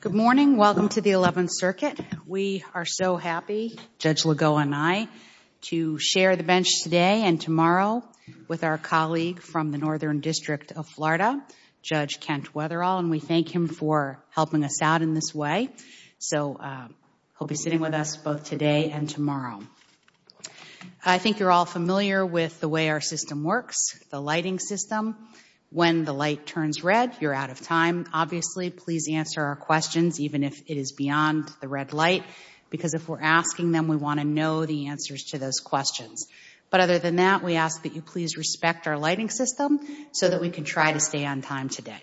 Good morning. Welcome to the Eleventh Circuit. We are so happy, Judge Lagoa and I, to share the bench today and tomorrow with our colleague from the Northern District of Florida, Judge Kent Wetherall, and we thank him for helping us out in this way. So he'll be sitting with us both today and tomorrow. I think you're all familiar with the way our system works, the lighting system. When the light turns red, you're out of time. Obviously, please answer our questions, even if it is beyond the red light, because if we're asking them, we want to know the answers to those questions. But other than that, we ask that you please respect our lighting system so that we can try to stay on time today.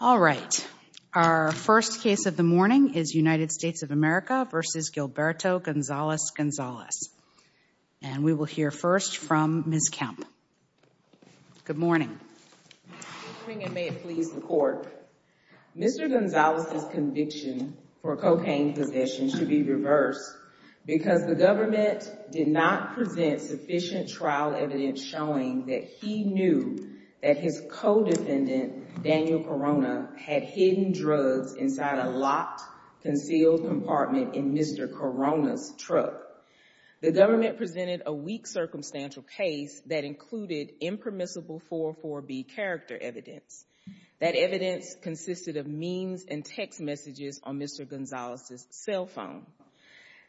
All right. Our first case of the morning is United States of America v. Gilberto Gonzalez-Gonzalez. And we will hear first from Ms. Kemp. Good morning. Good morning, and may it please the Court. Mr. Gonzalez's conviction for cocaine possession should be reversed because the government did not present sufficient trial evidence showing that he knew that his co-defendant, Daniel Corona, had hidden drugs inside a locked, concealed compartment in Mr. Corona's truck. The government presented a weak circumstantial case that included impermissible 4-4-B character evidence. That evidence consisted of memes and text messages on Mr. Gonzalez's cell phone.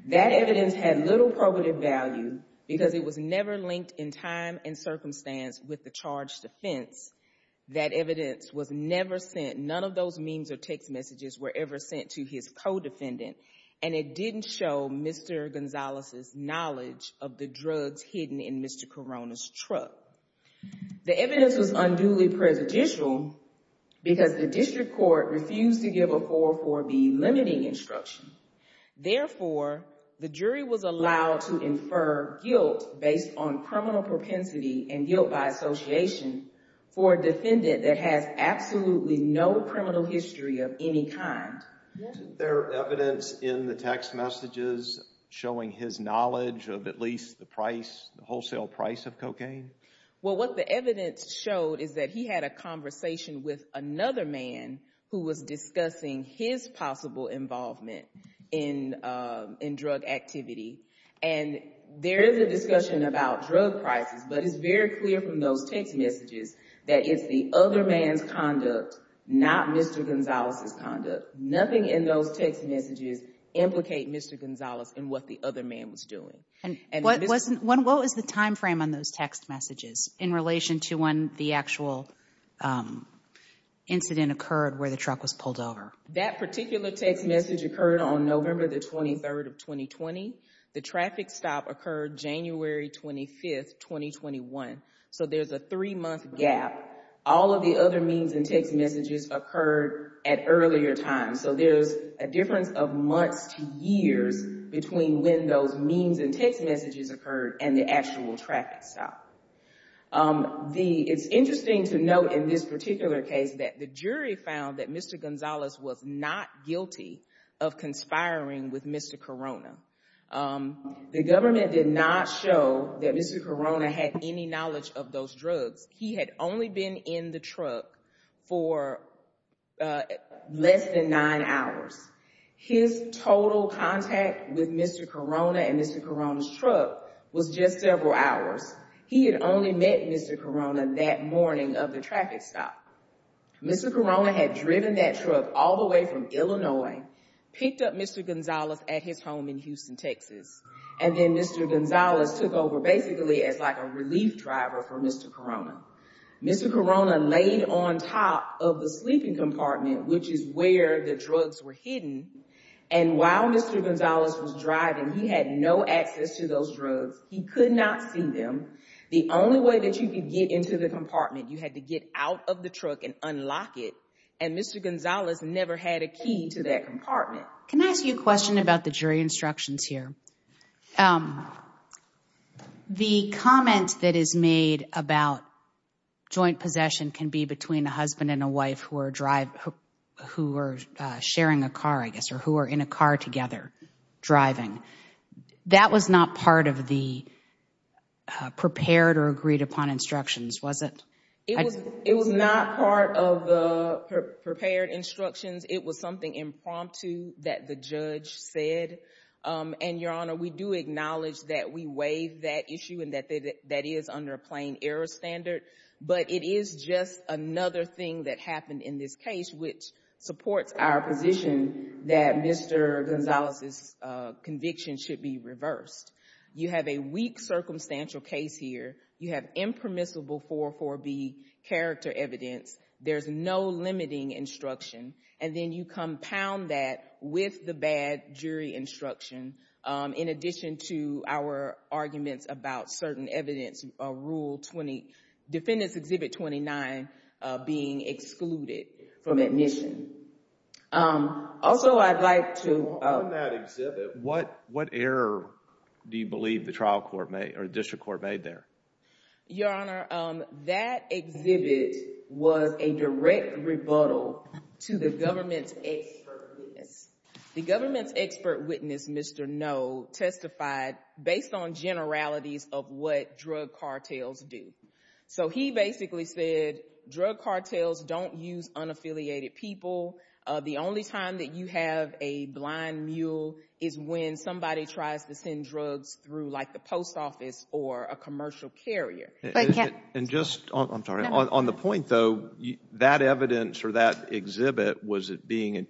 That evidence had little probative value because it was never linked in time and circumstance with the charged offense. That evidence was and it didn't show Mr. Gonzalez's knowledge of the drugs hidden in Mr. Corona's truck. The evidence was unduly prejudicial because the district court refused to give a 4-4-B limiting instruction. Therefore, the jury was allowed to infer guilt based on criminal propensity and guilt by association for a defendant that has absolutely no criminal history of any kind. Is there evidence in the text messages showing his knowledge of at least the wholesale price of cocaine? Well, what the evidence showed is that he had a conversation with another man who was discussing his possible involvement in drug activity. And there is a discussion about drug prices, but it's very clear from those text messages that it's the other man's conduct, not Mr. Gonzalez's conduct. Nothing in those text messages implicate Mr. Gonzalez and what the other man was doing. What was the time frame on those text messages in relation to when the actual incident occurred where the truck was pulled over? That particular text message occurred on November the 23rd of 2020. The traffic stop occurred January 25th, 2021. So there's a three-month gap. All of the other means and text messages occurred at earlier times. So there's a difference of months to years between when those means and text messages occurred and the actual traffic stop. It's interesting to note in this particular case that the jury found that Mr. Gonzalez was not guilty of conspiring with Mr. Corona. The government did not show that Mr. Corona had any knowledge of those drugs. He had only been in the truck for less than nine hours. His total contact with Mr. Corona and Mr. Corona's truck was just several hours. He had only met Mr. Corona that morning of the traffic stop. Mr. Corona had driven that truck all the way from Illinois, picked up Mr. Gonzalez at his home in Houston, Texas, and then Mr. Gonzalez took over basically as like a relief driver for Mr. Corona. Mr. Corona laid on top of the sleeping compartment, which is where the drugs were hidden, and while Mr. Gonzalez was driving, he had no access to those drugs. He could not see them. The only way that you could get into the compartment, you had to get out of the truck and unlock it, and Mr. Gonzalez never had a key to that compartment. Can I ask you a question about the jury instructions here? The comment that is made about joint possession can be between a husband and a wife who are sharing a car, I guess, or who are in a car together driving. That was not part of the prepared or agreed upon instructions, was it? It was not part of the prepared instructions. It was something impromptu that the judge said, and, Your Honor, we do acknowledge that we waive that issue and that that is under a plain error standard, but it is just another thing that happened in this case, which supports our position that Mr. Gonzalez's conviction should be reversed. You have a weak circumstantial case here. You have impermissible 444B character evidence. There's no limiting instruction, and then you compound that with the bad jury instruction. In addition to our arguments about certain evidence, Defendant's Exhibit 29 being excluded from admission. On that exhibit, what error do you believe the district court made there? Your Honor, that exhibit was a direct rebuttal to the government's expert witness. Mr. Noh testified based on generalities of what drug cartels do. So he basically said drug cartels don't use unaffiliated people. The only time that you have a blind mule is when somebody tries to send drugs through like the post office or a commercial carrier. And just, I'm sorry, on the point though, that evidence or that exhibit, was it being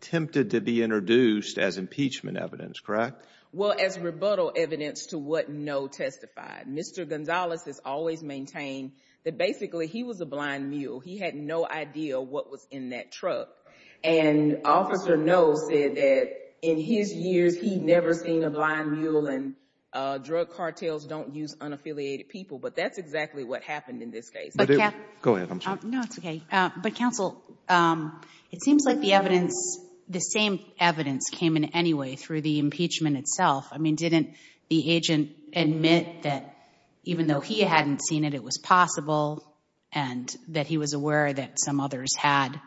attempted to be introduced as impeachment evidence, correct? Well, as rebuttal evidence to what Noh testified. Mr. Gonzalez has always maintained that basically he was a blind mule. He had no idea what was in that truck, and Officer Noh said that in his years he'd never seen a blind mule and that drug cartels don't use unaffiliated people. But that's exactly what happened in this case. Go ahead, I'm sorry. No, it's okay. But counsel, it seems like the evidence, the same evidence came in anyway through the impeachment itself. I mean, didn't the agent admit that even though he hadn't seen it, it was possible and that he was aware that some others had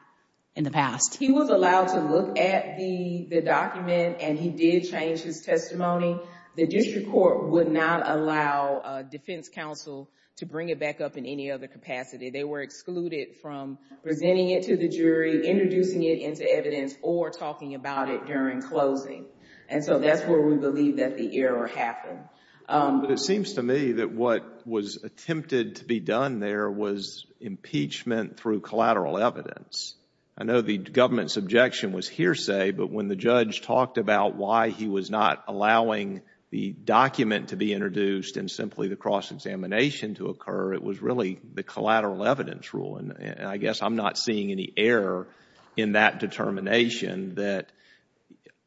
in the past? He was allowed to look at the document and he did change his testimony. The district court would not allow defense counsel to bring it back up in any other capacity. They were excluded from presenting it to the jury, introducing it into evidence, or talking about it during closing. And so that's where we believe that the error happened. But it seems to me that what was attempted to be done there was impeachment through collateral evidence. I know the government's objection was hearsay, but when the judge talked about why he was not allowing the document to be introduced and simply the cross-examination to occur, it was really the collateral evidence rule. And I guess I'm not seeing any error in that determination that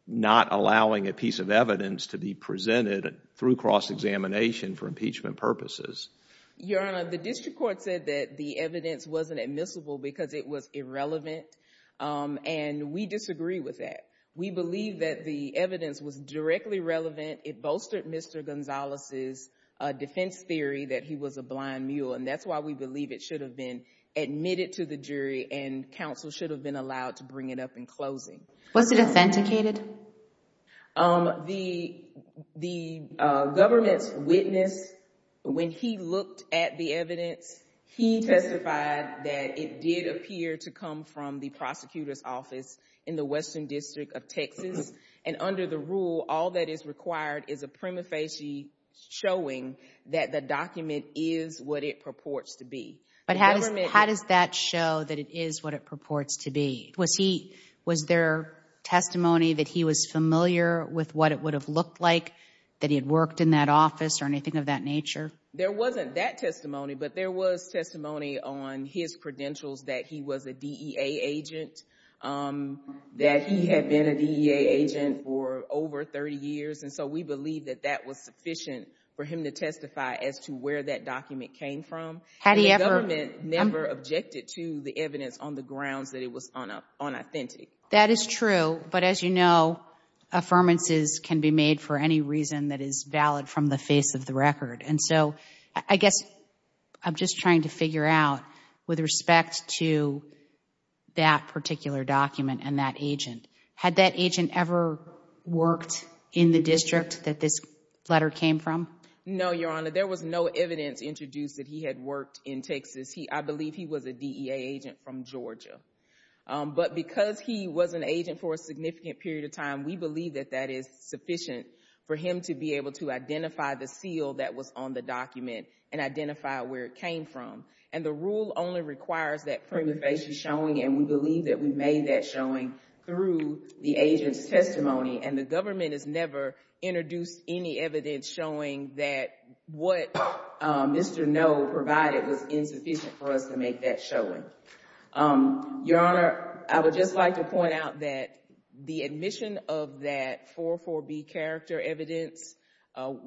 not allowing a piece of evidence to be presented through cross-examination for impeachment purposes. Your Honor, the district court said that the evidence wasn't admissible because it was irrelevant. And we disagree with that. We believe that the evidence was directly relevant. It bolstered Mr. Gonzalez's defense theory that he was a blind mule. And that's why we believe it should have been admitted to the jury and counsel should have been allowed to bring it up in closing. Was it authenticated? The government's witness, when he looked at the evidence, he testified that it did appear to come from the prosecutor's office in the Western District of Texas. And under the rule, all that is required is a prima facie showing that the document is what it purports to be. But how does that show that it is what it purports to be? Was there testimony that he was familiar with what it would have looked like that he had worked in that office or anything of that nature? There wasn't that testimony. But there was testimony on his credentials that he was a DEA agent, that he had been a DEA agent for over 30 years. And so we believe that that was sufficient for him to testify as to where that document came from. The government never objected to the evidence on the grounds that it was unauthentic. That is true. But as you know, affirmances can be made for any reason that is valid from the face of the record. And so I guess I'm just trying to figure out with respect to that particular document and that agent, had that agent ever worked in the district that this letter came from? No, Your Honor. There was no evidence introduced that he had worked in Texas. I believe he was a DEA agent from Georgia. But because he was an agent for a significant period of time, we believe that that is sufficient for him to be able to identify the seal that was on the document and identify where it came from. And the rule only requires that prima facie showing, and the government has never introduced any evidence showing that what Mr. No provided was insufficient for us to make that showing. Your Honor, I would just like to point out that the admission of that 44B character evidence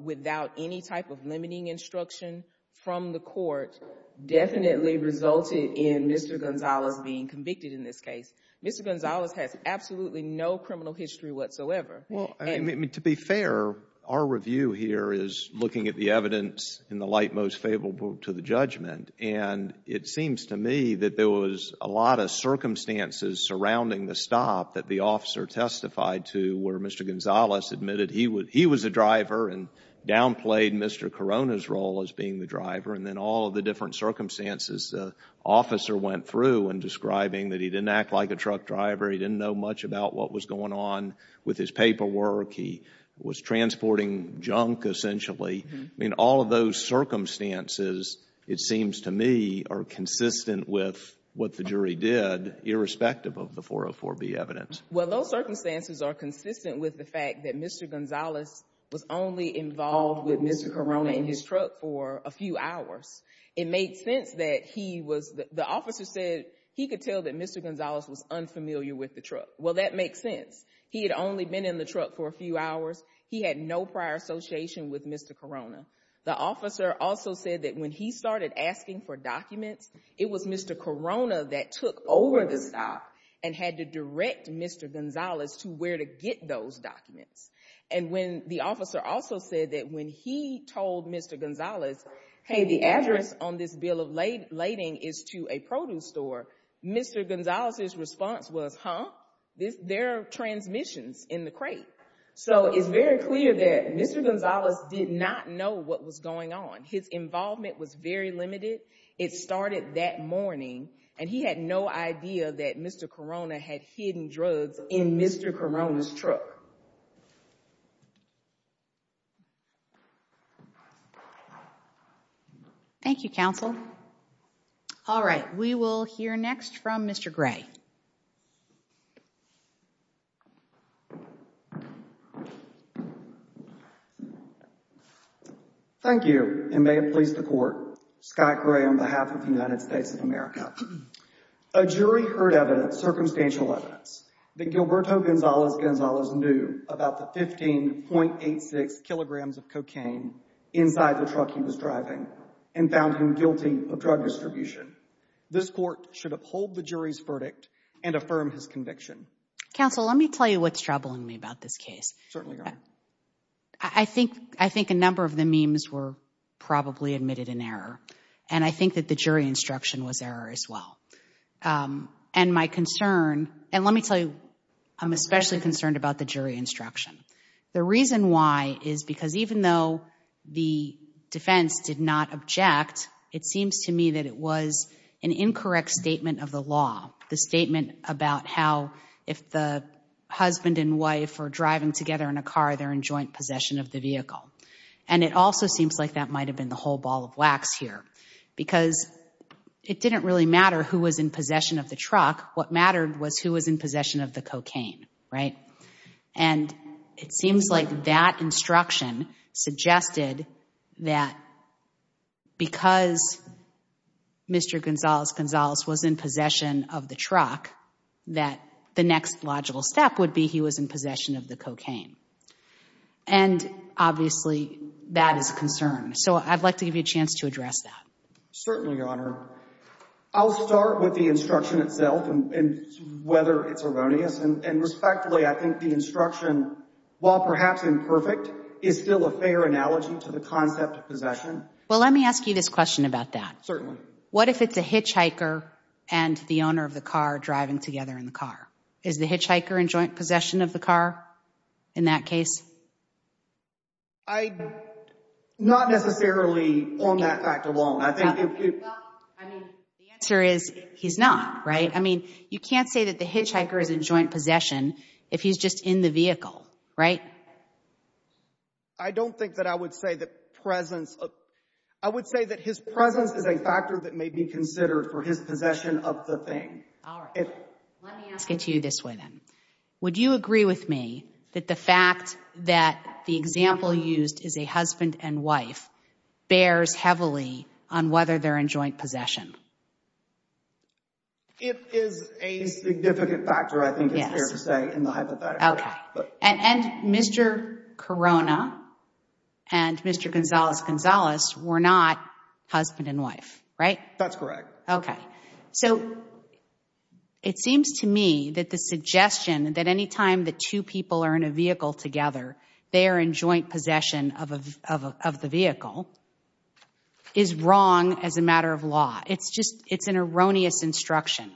without any type of limiting instruction from the court definitely resulted in Mr. Gonzalez being convicted in this case. Mr. Gonzalez has absolutely no criminal history whatsoever. Well, I mean, to be fair, our review here is looking at the evidence in the light most favorable to the judgment. And it seems to me that there was a lot of circumstances surrounding the stop that the officer testified to where Mr. Gonzalez admitted he was a driver and downplayed Mr. Corona's role as being the driver. And then all of the different circumstances the officer went through in describing that he didn't act like a truck driver, he didn't know much about what was going on with his paperwork, he was transporting junk, essentially. I mean, all of those circumstances, it seems to me, are consistent with what the jury did, irrespective of the 404B evidence. Well, those circumstances are consistent with the fact that Mr. Gonzalez was only involved with Mr. Corona in his truck for a few hours. It made sense that he was, the officer said he could tell that Mr. Gonzalez was unfamiliar with the truck. Well, that makes sense. He had only been in the truck for a few hours. He had no prior association with Mr. Corona. The officer also said that when he started asking for documents, it was Mr. Corona that took over the stop and had to direct Mr. Gonzalez to where to get those documents. And when the officer also said that when he told Mr. Gonzalez, hey, the address on this bill of lading is to a produce store, Mr. Gonzalez's response was, huh? There are transmissions in the crate. So it's very clear that Mr. Gonzalez did not know what was going on. His involvement was very limited. It started that morning. And he had no idea that Mr. Corona had hidden drugs in Mr. Corona's truck. Thank you, counsel. All right. We will hear next from Mr. Gray. Thank you, and may it please the court. Scott Gray on behalf of the United States of America. A jury heard evidence, circumstantial evidence, that Gilberto Gonzalez-Gonzalez knew about the 15.86 kilograms of cocaine inside the truck he was driving and found him guilty of drug distribution. This court should uphold the jury's verdict and affirm his conviction. Counsel, let me tell you what's troubling me about this case. Certainly. I think I think a number of the memes were probably admitted in error. And I think that the jury instruction was error as well. And my concern and let me tell you, I'm especially concerned about the jury instruction. The reason why is because even though the defense did not object, it seems to me that it was an incorrect statement of the law. The statement about how if the husband and wife are driving together in a car, they're in joint possession of the vehicle. And it also seems like that might have been the whole ball of wax here because it didn't really matter who was in possession of the truck. What mattered was who was in possession of the cocaine. Right. And it seems like that instruction suggested that because Mr. Gonzalez-Gonzalez was in possession of the truck, that the next logical step would be he was in possession of the cocaine. And obviously, that is a concern. So I'd like to give you a chance to address that. Certainly, Your Honor. I'll start with the instruction itself and whether it's erroneous. And respectfully, I think the instruction, while perhaps imperfect, is still a fair analogy to the concept of possession. Well, let me ask you this question about that. Certainly. What if it's a hitchhiker and the owner of the car driving together in the car? Is the hitchhiker in joint possession of the car in that case? I'm not necessarily on that fact alone. Well, I mean, the answer is he's not, right? I mean, you can't say that the hitchhiker is in joint possession if he's just in the vehicle, right? I don't think that I would say that presence of – I would say that his presence is a factor that may be considered for his possession of the thing. All right. Let me ask it to you this way, then. Would you agree with me that the fact that the example used is a husband and wife bears heavily on whether they're in joint possession? It is a significant factor, I think it's fair to say, in the hypothetical. Okay. And Mr. Corona and Mr. Gonzales-Gonzales were not husband and wife, right? That's correct. Okay. So it seems to me that the suggestion that any time the two people are in a vehicle together, they are in joint possession of the vehicle, is wrong as a matter of law. It's just – it's an erroneous instruction.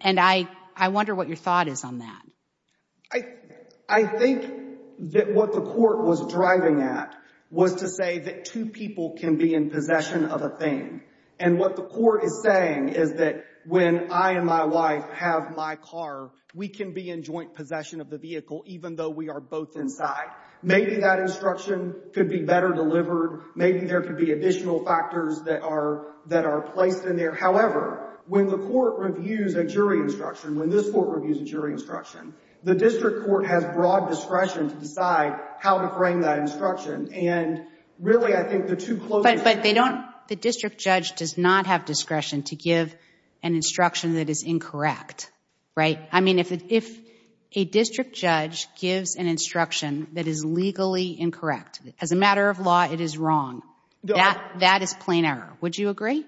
And I wonder what your thought is on that. I think that what the court was driving at was to say that two people can be in possession of a thing. And what the court is saying is that when I and my wife have my car, we can be in joint possession of the vehicle even though we are both inside. Maybe that instruction could be better delivered. Maybe there could be additional factors that are placed in there. However, when the court reviews a jury instruction, when this court reviews a jury instruction, the district court has broad discretion to decide how to frame that instruction. And really, I think the two closest – But they don't – the district judge does not have discretion to give an instruction that is incorrect, right? I mean, if a district judge gives an instruction that is legally incorrect, as a matter of law, it is wrong. That is plain error. Would you agree?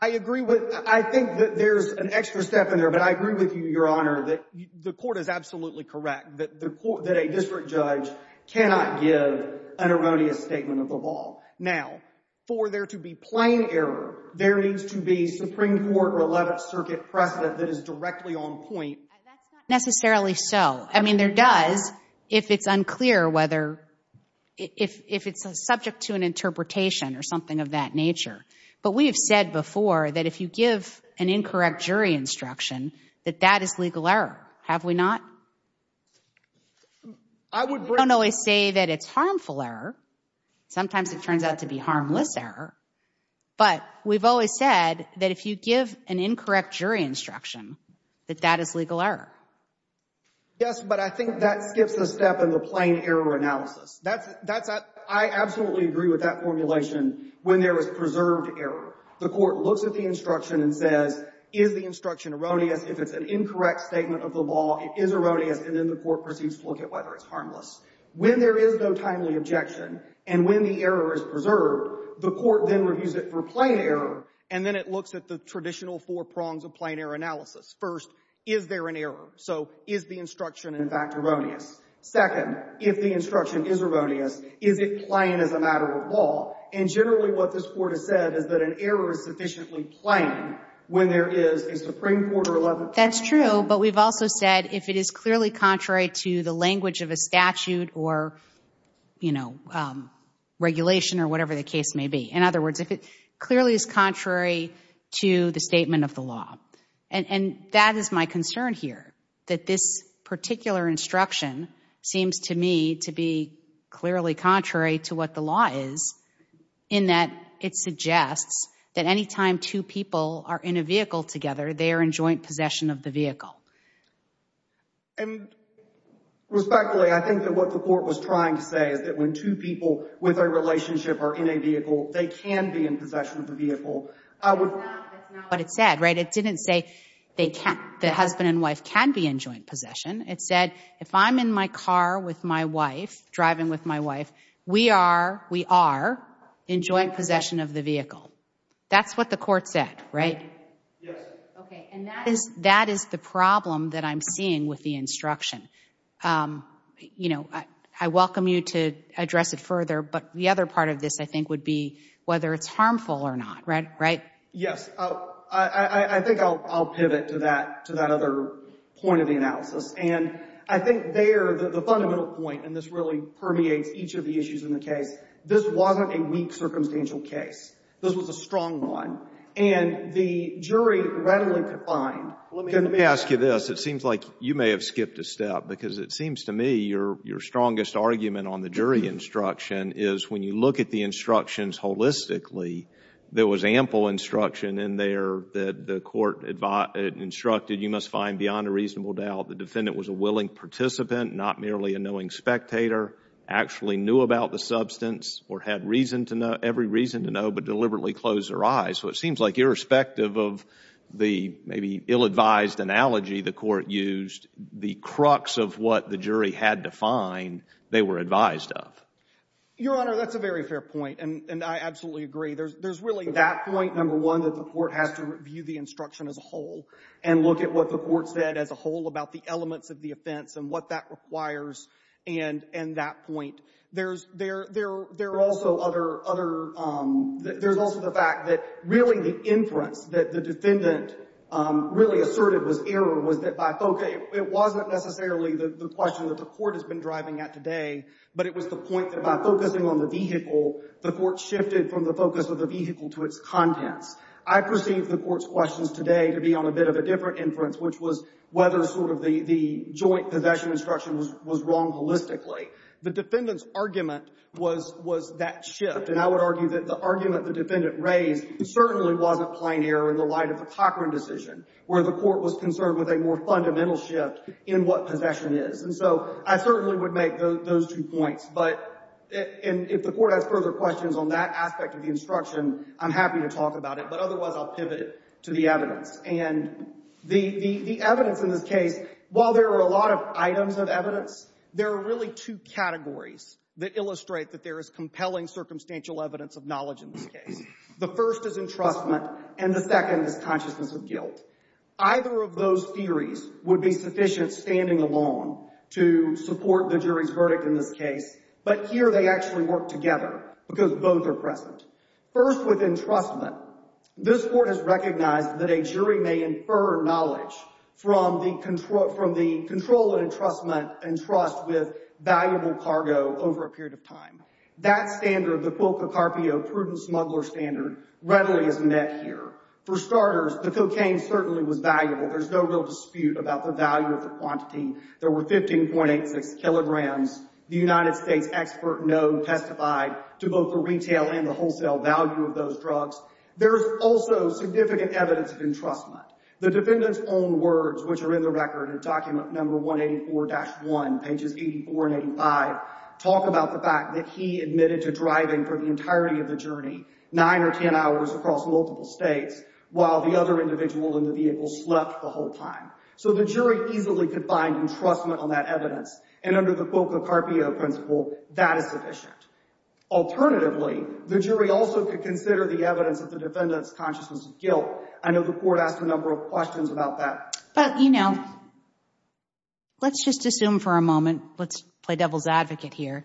I agree with – I think that there's an extra step in there. But I agree with you, Your Honor, that the court is absolutely correct that a district judge cannot give an erroneous statement of the law. Now, for there to be plain error, there needs to be Supreme Court or 11th Circuit precedent that is directly on point. That's not necessarily so. I mean, there does if it's unclear whether – if it's subject to an interpretation or something of that nature. But we have said before that if you give an incorrect jury instruction, that that is legal error. Have we not? We don't always say that it's harmful error. Sometimes it turns out to be harmless error. But we've always said that if you give an incorrect jury instruction, that that is legal error. Yes, but I think that skips a step in the plain error analysis. I absolutely agree with that formulation when there is preserved error. The court looks at the instruction and says, is the instruction erroneous? If it's an incorrect statement of the law, it is erroneous. And then the court proceeds to look at whether it's harmless. When there is no timely objection and when the error is preserved, the court then reviews it for plain error. And then it looks at the traditional four prongs of plain error analysis. First, is there an error? So is the instruction, in fact, erroneous? Second, if the instruction is erroneous, is it plain as a matter of law? And generally what this court has said is that an error is sufficiently plain when there is a Supreme Court or 11th Circuit. That's true, but we've also said if it is clearly contrary to the language of a statute or, you know, regulation or whatever the case may be. In other words, if it clearly is contrary to the statement of the law. And that is my concern here, that this particular instruction seems to me to be clearly contrary to what the law is, in that it suggests that any time two people are in a vehicle together, they are in joint possession of the vehicle. And respectfully, I think that what the court was trying to say is that when two people with a relationship are in a vehicle, that's not what it said, right? It didn't say the husband and wife can be in joint possession. It said if I'm in my car with my wife, driving with my wife, we are, we are in joint possession of the vehicle. That's what the court said, right? Yes. Okay, and that is the problem that I'm seeing with the instruction. You know, I welcome you to address it further, but the other part of this, I think, would be whether it's harmful or not, right? Yes. I think I'll pivot to that, to that other point of the analysis. And I think there, the fundamental point, and this really permeates each of the issues in the case, this wasn't a weak circumstantial case. This was a strong one. And the jury readily could find, let me ask you this. It seems like you may have skipped a step because it seems to me your strongest argument on the jury instruction is when you look at the instructions holistically, there was ample instruction in there that the court instructed you must find beyond a reasonable doubt the defendant was a willing participant, not merely a knowing spectator, actually knew about the substance or had reason to know, every reason to know, but deliberately closed their eyes. So it seems like irrespective of the maybe ill-advised analogy the court used, the crux of what the jury had to find, they were advised of. Your Honor, that's a very fair point, and I absolutely agree. There's really that point, number one, that the court has to review the instruction as a whole and look at what the court said as a whole about the elements of the offense and what that requires and that point. There's also other – there's also the fact that really the inference that the defendant really asserted was error was that by – okay, it wasn't necessarily the question that the court has been driving at today, but it was the point that by focusing on the vehicle, the court shifted from the focus of the vehicle to its contents. I perceive the court's questions today to be on a bit of a different inference, which was whether sort of the joint possession instruction was wrong holistically. The defendant's argument was that shift, and I would argue that the argument the defendant raised certainly wasn't plain error in the light of the Cochran decision, where the court was concerned with a more fundamental shift in what possession is. And so I certainly would make those two points, but if the court has further questions on that aspect of the instruction, I'm happy to talk about it, but otherwise I'll pivot it to the evidence. And the evidence in this case, while there are a lot of items of evidence, there are really two categories that illustrate that there is compelling circumstantial evidence of knowledge in this case. The first is entrustment, and the second is consciousness of guilt. Either of those theories would be sufficient standing alone to support the jury's verdict in this case, but here they actually work together because both are present. First, with entrustment, this court has recognized that a jury may infer knowledge from the control of entrustment and trust with valuable cargo over a period of time. That standard, the Cuoco-Carpio prudent smuggler standard, readily is met here. For starters, the cocaine certainly was valuable. There's no real dispute about the value of the quantity. There were 15.86 kilograms. The United States expert known testified to both the retail and the wholesale value of those drugs. There is also significant evidence of entrustment. The defendant's own words, which are in the record in document number 184-1, pages 84 and 85, talk about the fact that he admitted to driving for the entirety of the journey, 9 or 10 hours across multiple states, while the other individual in the vehicle slept the whole time. So the jury easily could find entrustment on that evidence, and under the Cuoco-Carpio principle, that is sufficient. Alternatively, the jury also could consider the evidence that the defendant's consciousness of guilt. I know the court asked a number of questions about that. But, you know, let's just assume for a moment. Let's play devil's advocate here.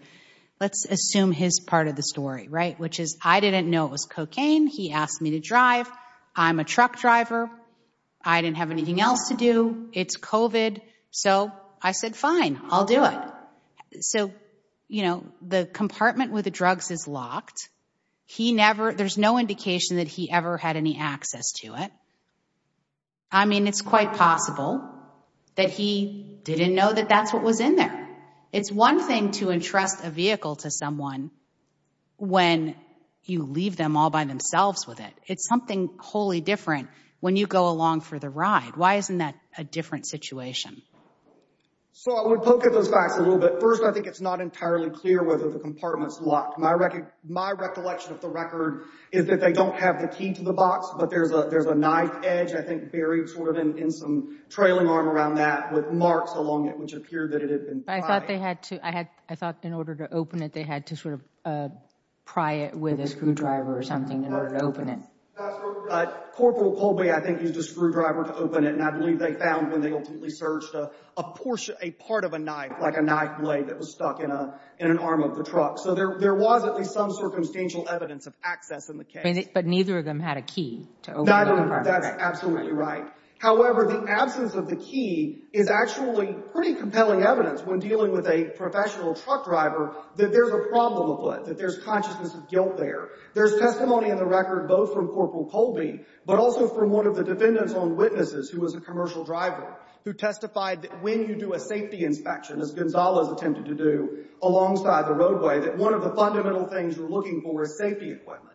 Let's assume his part of the story, right, which is, I didn't know it was cocaine. He asked me to drive. I'm a truck driver. I didn't have anything else to do. It's COVID. So I said, fine, I'll do it. So, you know, the compartment with the drugs is locked. He never, there's no indication that he ever had any access to it. I mean, it's quite possible that he didn't know that that's what was in there. And it's one thing to entrust a vehicle to someone when you leave them all by themselves with it. It's something wholly different when you go along for the ride. Why isn't that a different situation? So I would poke at those facts a little bit. First, I think it's not entirely clear whether the compartment's locked. My recollection of the record is that they don't have the key to the box. But there's a there's a knife edge, I think, buried sort of in some trailing arm around that with marks along it, which appeared that it had been pried. I thought they had to, I had, I thought in order to open it, they had to sort of pry it with a screwdriver or something in order to open it. Corporal Colby, I think, used a screwdriver to open it. And I believe they found when they ultimately searched a portion, a part of a knife, like a knife blade that was stuck in an arm of the truck. So there was at least some circumstantial evidence of access in the case. But neither of them had a key to open the compartment. That's absolutely right. However, the absence of the key is actually pretty compelling evidence when dealing with a professional truck driver, that there's a problem with it, that there's consciousness of guilt there. There's testimony in the record, both from Corporal Colby, but also from one of the defendant's own witnesses, who was a commercial driver, who testified that when you do a safety inspection, as Gonzalez attempted to do alongside the roadway, that one of the fundamental things you're looking for is safety equipment.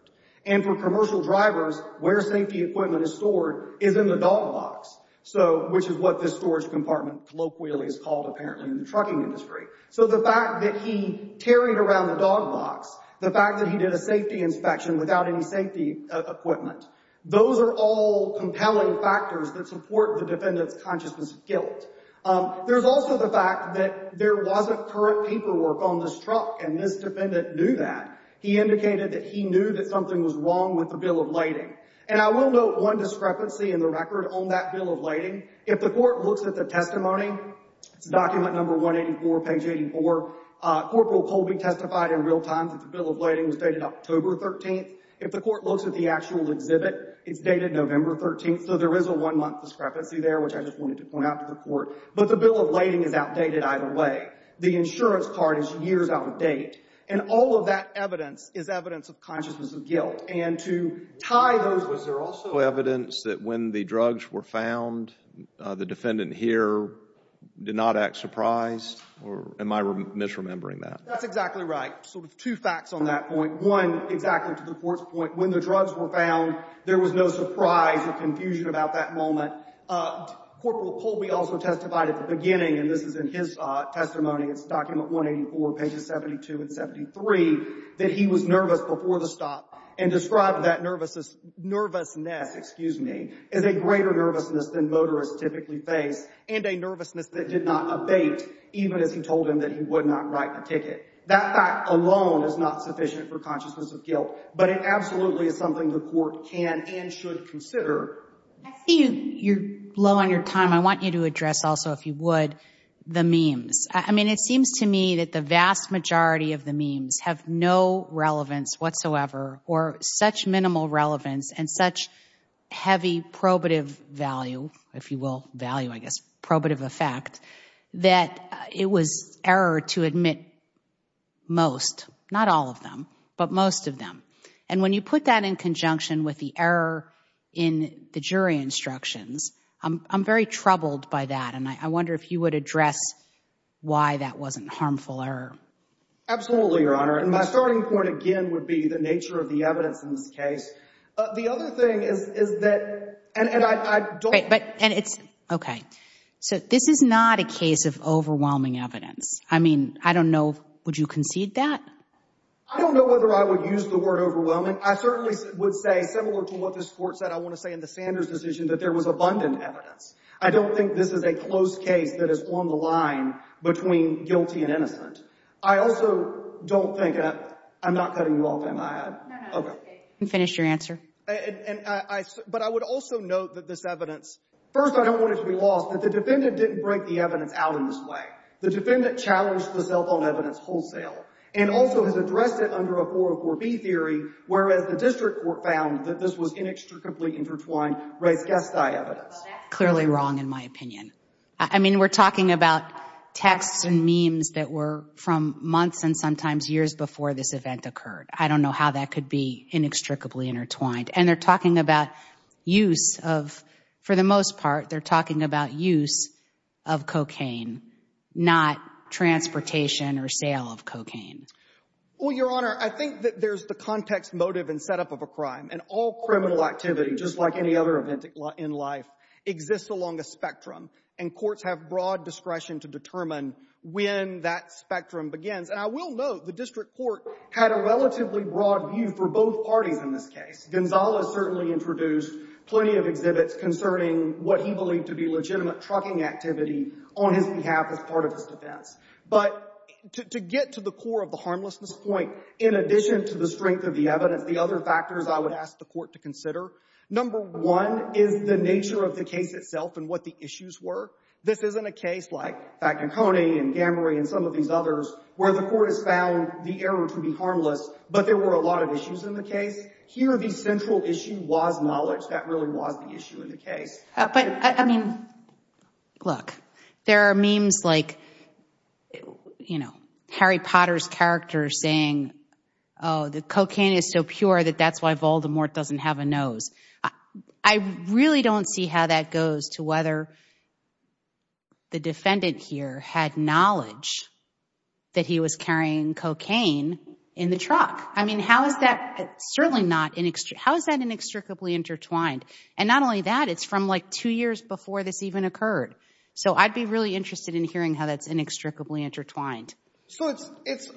And for commercial drivers, where safety equipment is stored is in the dog box. So, which is what this storage compartment colloquially is called, apparently, in the trucking industry. So the fact that he carried around the dog box, the fact that he did a safety inspection without any safety equipment, those are all compelling factors that support the defendant's consciousness of guilt. There's also the fact that there wasn't current paperwork on this truck, and this defendant knew that. He indicated that he knew that something was wrong with the bill of lading. And I will note one discrepancy in the record on that bill of lading. If the court looks at the testimony, it's document number 184, page 84, Corporal Colby testified in real time that the bill of lading was dated October 13th. If the court looks at the actual exhibit, it's dated November 13th. So there is a one-month discrepancy there, which I just wanted to point out to the court. But the bill of lading is outdated either way. The insurance card is years out of date. And all of that evidence is evidence of consciousness of guilt. And to tie those, was there also evidence that when the drugs were found, the defendant here did not act surprised? Or am I misremembering that? That's exactly right. So two facts on that point. One, exactly to the court's point, when the drugs were found, there was no surprise or confusion about that moment. Corporal Colby also testified at the beginning, and this is in his testimony, it's document 184, pages 72 and 73, that he was nervous before the stop and described that nervousness as a greater nervousness than motorists typically face and a nervousness that did not abate even as he told him that he would not write the ticket. That fact alone is not sufficient for consciousness of guilt. But it absolutely is something the court can and should consider. I see you're low on your time. I want you to address also, if you would, the memes. I mean, it seems to me that the vast majority of the memes have no relevance whatsoever or such minimal relevance and such heavy probative value, if you will value, I guess, probative effect, that it was error to admit most, not all of them, but most of them. And when you put that in conjunction with the error in the jury instructions, I'm very troubled by that, and I wonder if you would address why that wasn't harmful error. Absolutely, Your Honor. And my starting point, again, would be the nature of the evidence in this case. The other thing is that, and I don't— Okay, so this is not a case of overwhelming evidence. I mean, I don't know, would you concede that? I don't know whether I would use the word overwhelming. I certainly would say, similar to what this court said, I want to say in the Sanders decision, that there was abundant evidence. I don't think this is a close case that is on the line between guilty and innocent. I also don't think—I'm not cutting you off, am I? No, no, it's okay. You can finish your answer. But I would also note that this evidence— First, I don't want it to be lost that the defendant didn't break the evidence out in this way. The defendant challenged the cell phone evidence wholesale and also has addressed it under a 404B theory, whereas the district court found that this was inextricably intertwined res gestae evidence. Well, that's clearly wrong in my opinion. I mean, we're talking about texts and memes that were from months and sometimes years before this event occurred. I don't know how that could be inextricably intertwined. And they're talking about use of—for the most part, they're talking about use of cocaine, not transportation or sale of cocaine. Well, Your Honor, I think that there's the context, motive, and setup of a crime. And all criminal activity, just like any other event in life, exists along a spectrum. And courts have broad discretion to determine when that spectrum begins. And I will note the district court had a relatively broad view for both parties in this case. Gonzales certainly introduced plenty of exhibits concerning what he believed to be legitimate trucking activity on his behalf as part of his defense. But to get to the core of the harmlessness point, in addition to the strength of the evidence, the other factors I would ask the court to consider, number one is the nature of the case itself and what the issues were. This isn't a case like Faconconi and Gamory and some of these others where the court has found the error to be harmless, but there were a lot of issues in the case. Here, the central issue was knowledge. That really was the issue in the case. But, I mean, look, there are memes like, you know, Harry Potter's character saying, oh, the cocaine is so pure that that's why Voldemort doesn't have a nose. I really don't see how that goes to whether the defendant here had knowledge that he was carrying cocaine in the truck. I mean, how is that, certainly not, how is that inextricably intertwined? And not only that, it's from like two years before this even occurred. So I'd be really interested in hearing how that's inextricably intertwined. So it's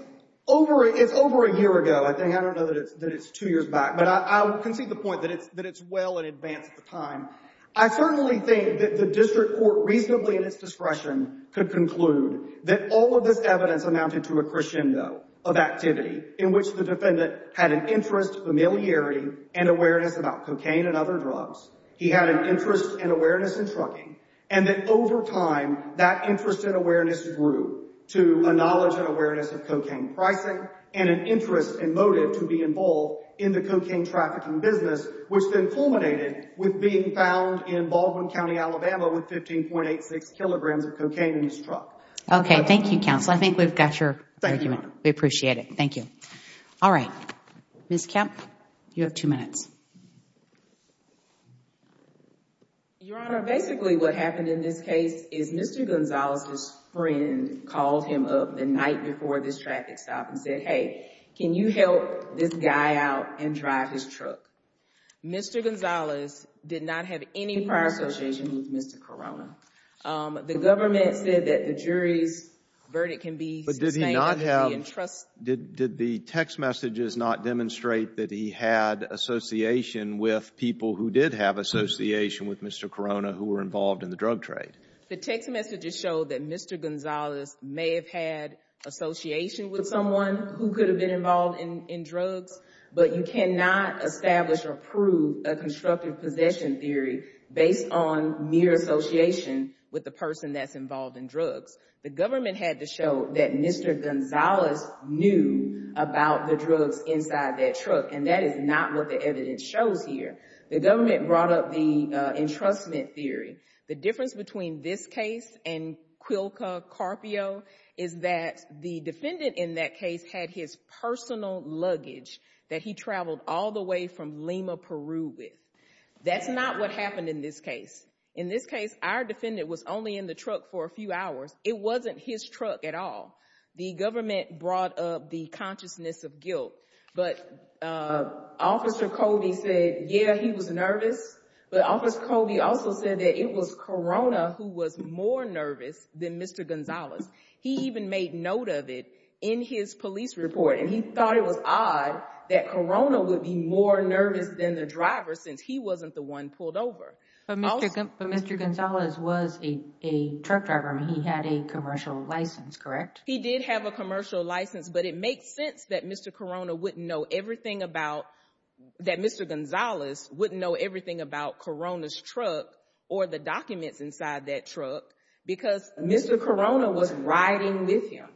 over a year ago, I think. I don't know that it's two years back. But I can see the point that it's well in advance of the time. I certainly think that the district court, reasonably at its discretion, could conclude that all of this evidence amounted to a crescendo of activity in which the defendant had an interest, familiarity, and awareness about cocaine and other drugs. He had an interest and awareness in trucking. And that over time, that interest and awareness grew to a knowledge and awareness of cocaine pricing and an interest and motive to be involved in the cocaine trafficking business, which then culminated with being found in Baldwin County, Alabama, with 15.86 kilograms of cocaine in his truck. Okay. Thank you, counsel. I think we've got your argument. Thank you, Your Honor. We appreciate it. Thank you. All right. Ms. Kemp, you have two minutes. Your Honor, basically what happened in this case is Mr. Gonzalez, his friend, called him up the night before this traffic stop and said, hey, can you help this guy out and drive his truck? Mr. Gonzalez did not have any prior association with Mr. Corona. The government said that the jury's verdict can be sustained. But did he not have, did the text messages not demonstrate that he had association with people who did have association with Mr. Corona who were involved in the drug trade? The text messages show that Mr. Gonzalez may have had association with someone who could have been involved in drugs, but you cannot establish or prove a constructive possession theory based on mere association with the person that's involved in drugs. The government had to show that Mr. Gonzalez knew about the drugs inside that truck, and that is not what the evidence shows here. The government brought up the entrustment theory. The difference between this case and Quilka Carpio is that the defendant in that case had his personal luggage that he traveled all the way from Lima, Peru with. That's not what happened in this case. In this case, our defendant was only in the truck for a few hours. It wasn't his truck at all. The government brought up the consciousness of guilt, but Officer Colby said, yeah, he was nervous, but Officer Colby also said that it was Corona who was more nervous than Mr. Gonzalez. He even made note of it in his police report, and he thought it was odd that Corona would be more nervous than the driver since he wasn't the one pulled over. But Mr. Gonzalez was a truck driver. He had a commercial license, correct? He did have a commercial license, but it makes sense that Mr. Corona wouldn't know everything about, that Mr. Gonzalez wouldn't know everything about Corona's truck or the documents inside that truck because Mr. Corona was riding with him,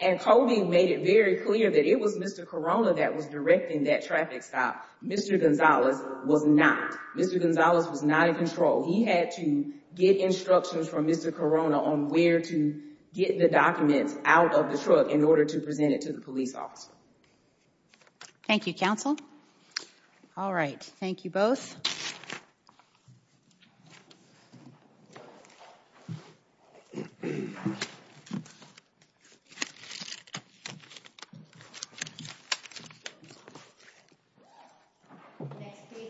and Colby made it very clear that it was Mr. Corona that was directing that traffic stop. Mr. Gonzalez was not. Mr. Gonzalez was not in control. He had to get instructions from Mr. Corona on where to get the documents out of the truck in order to present it to the police officer. Thank you, Counsel. All right. Thank you both.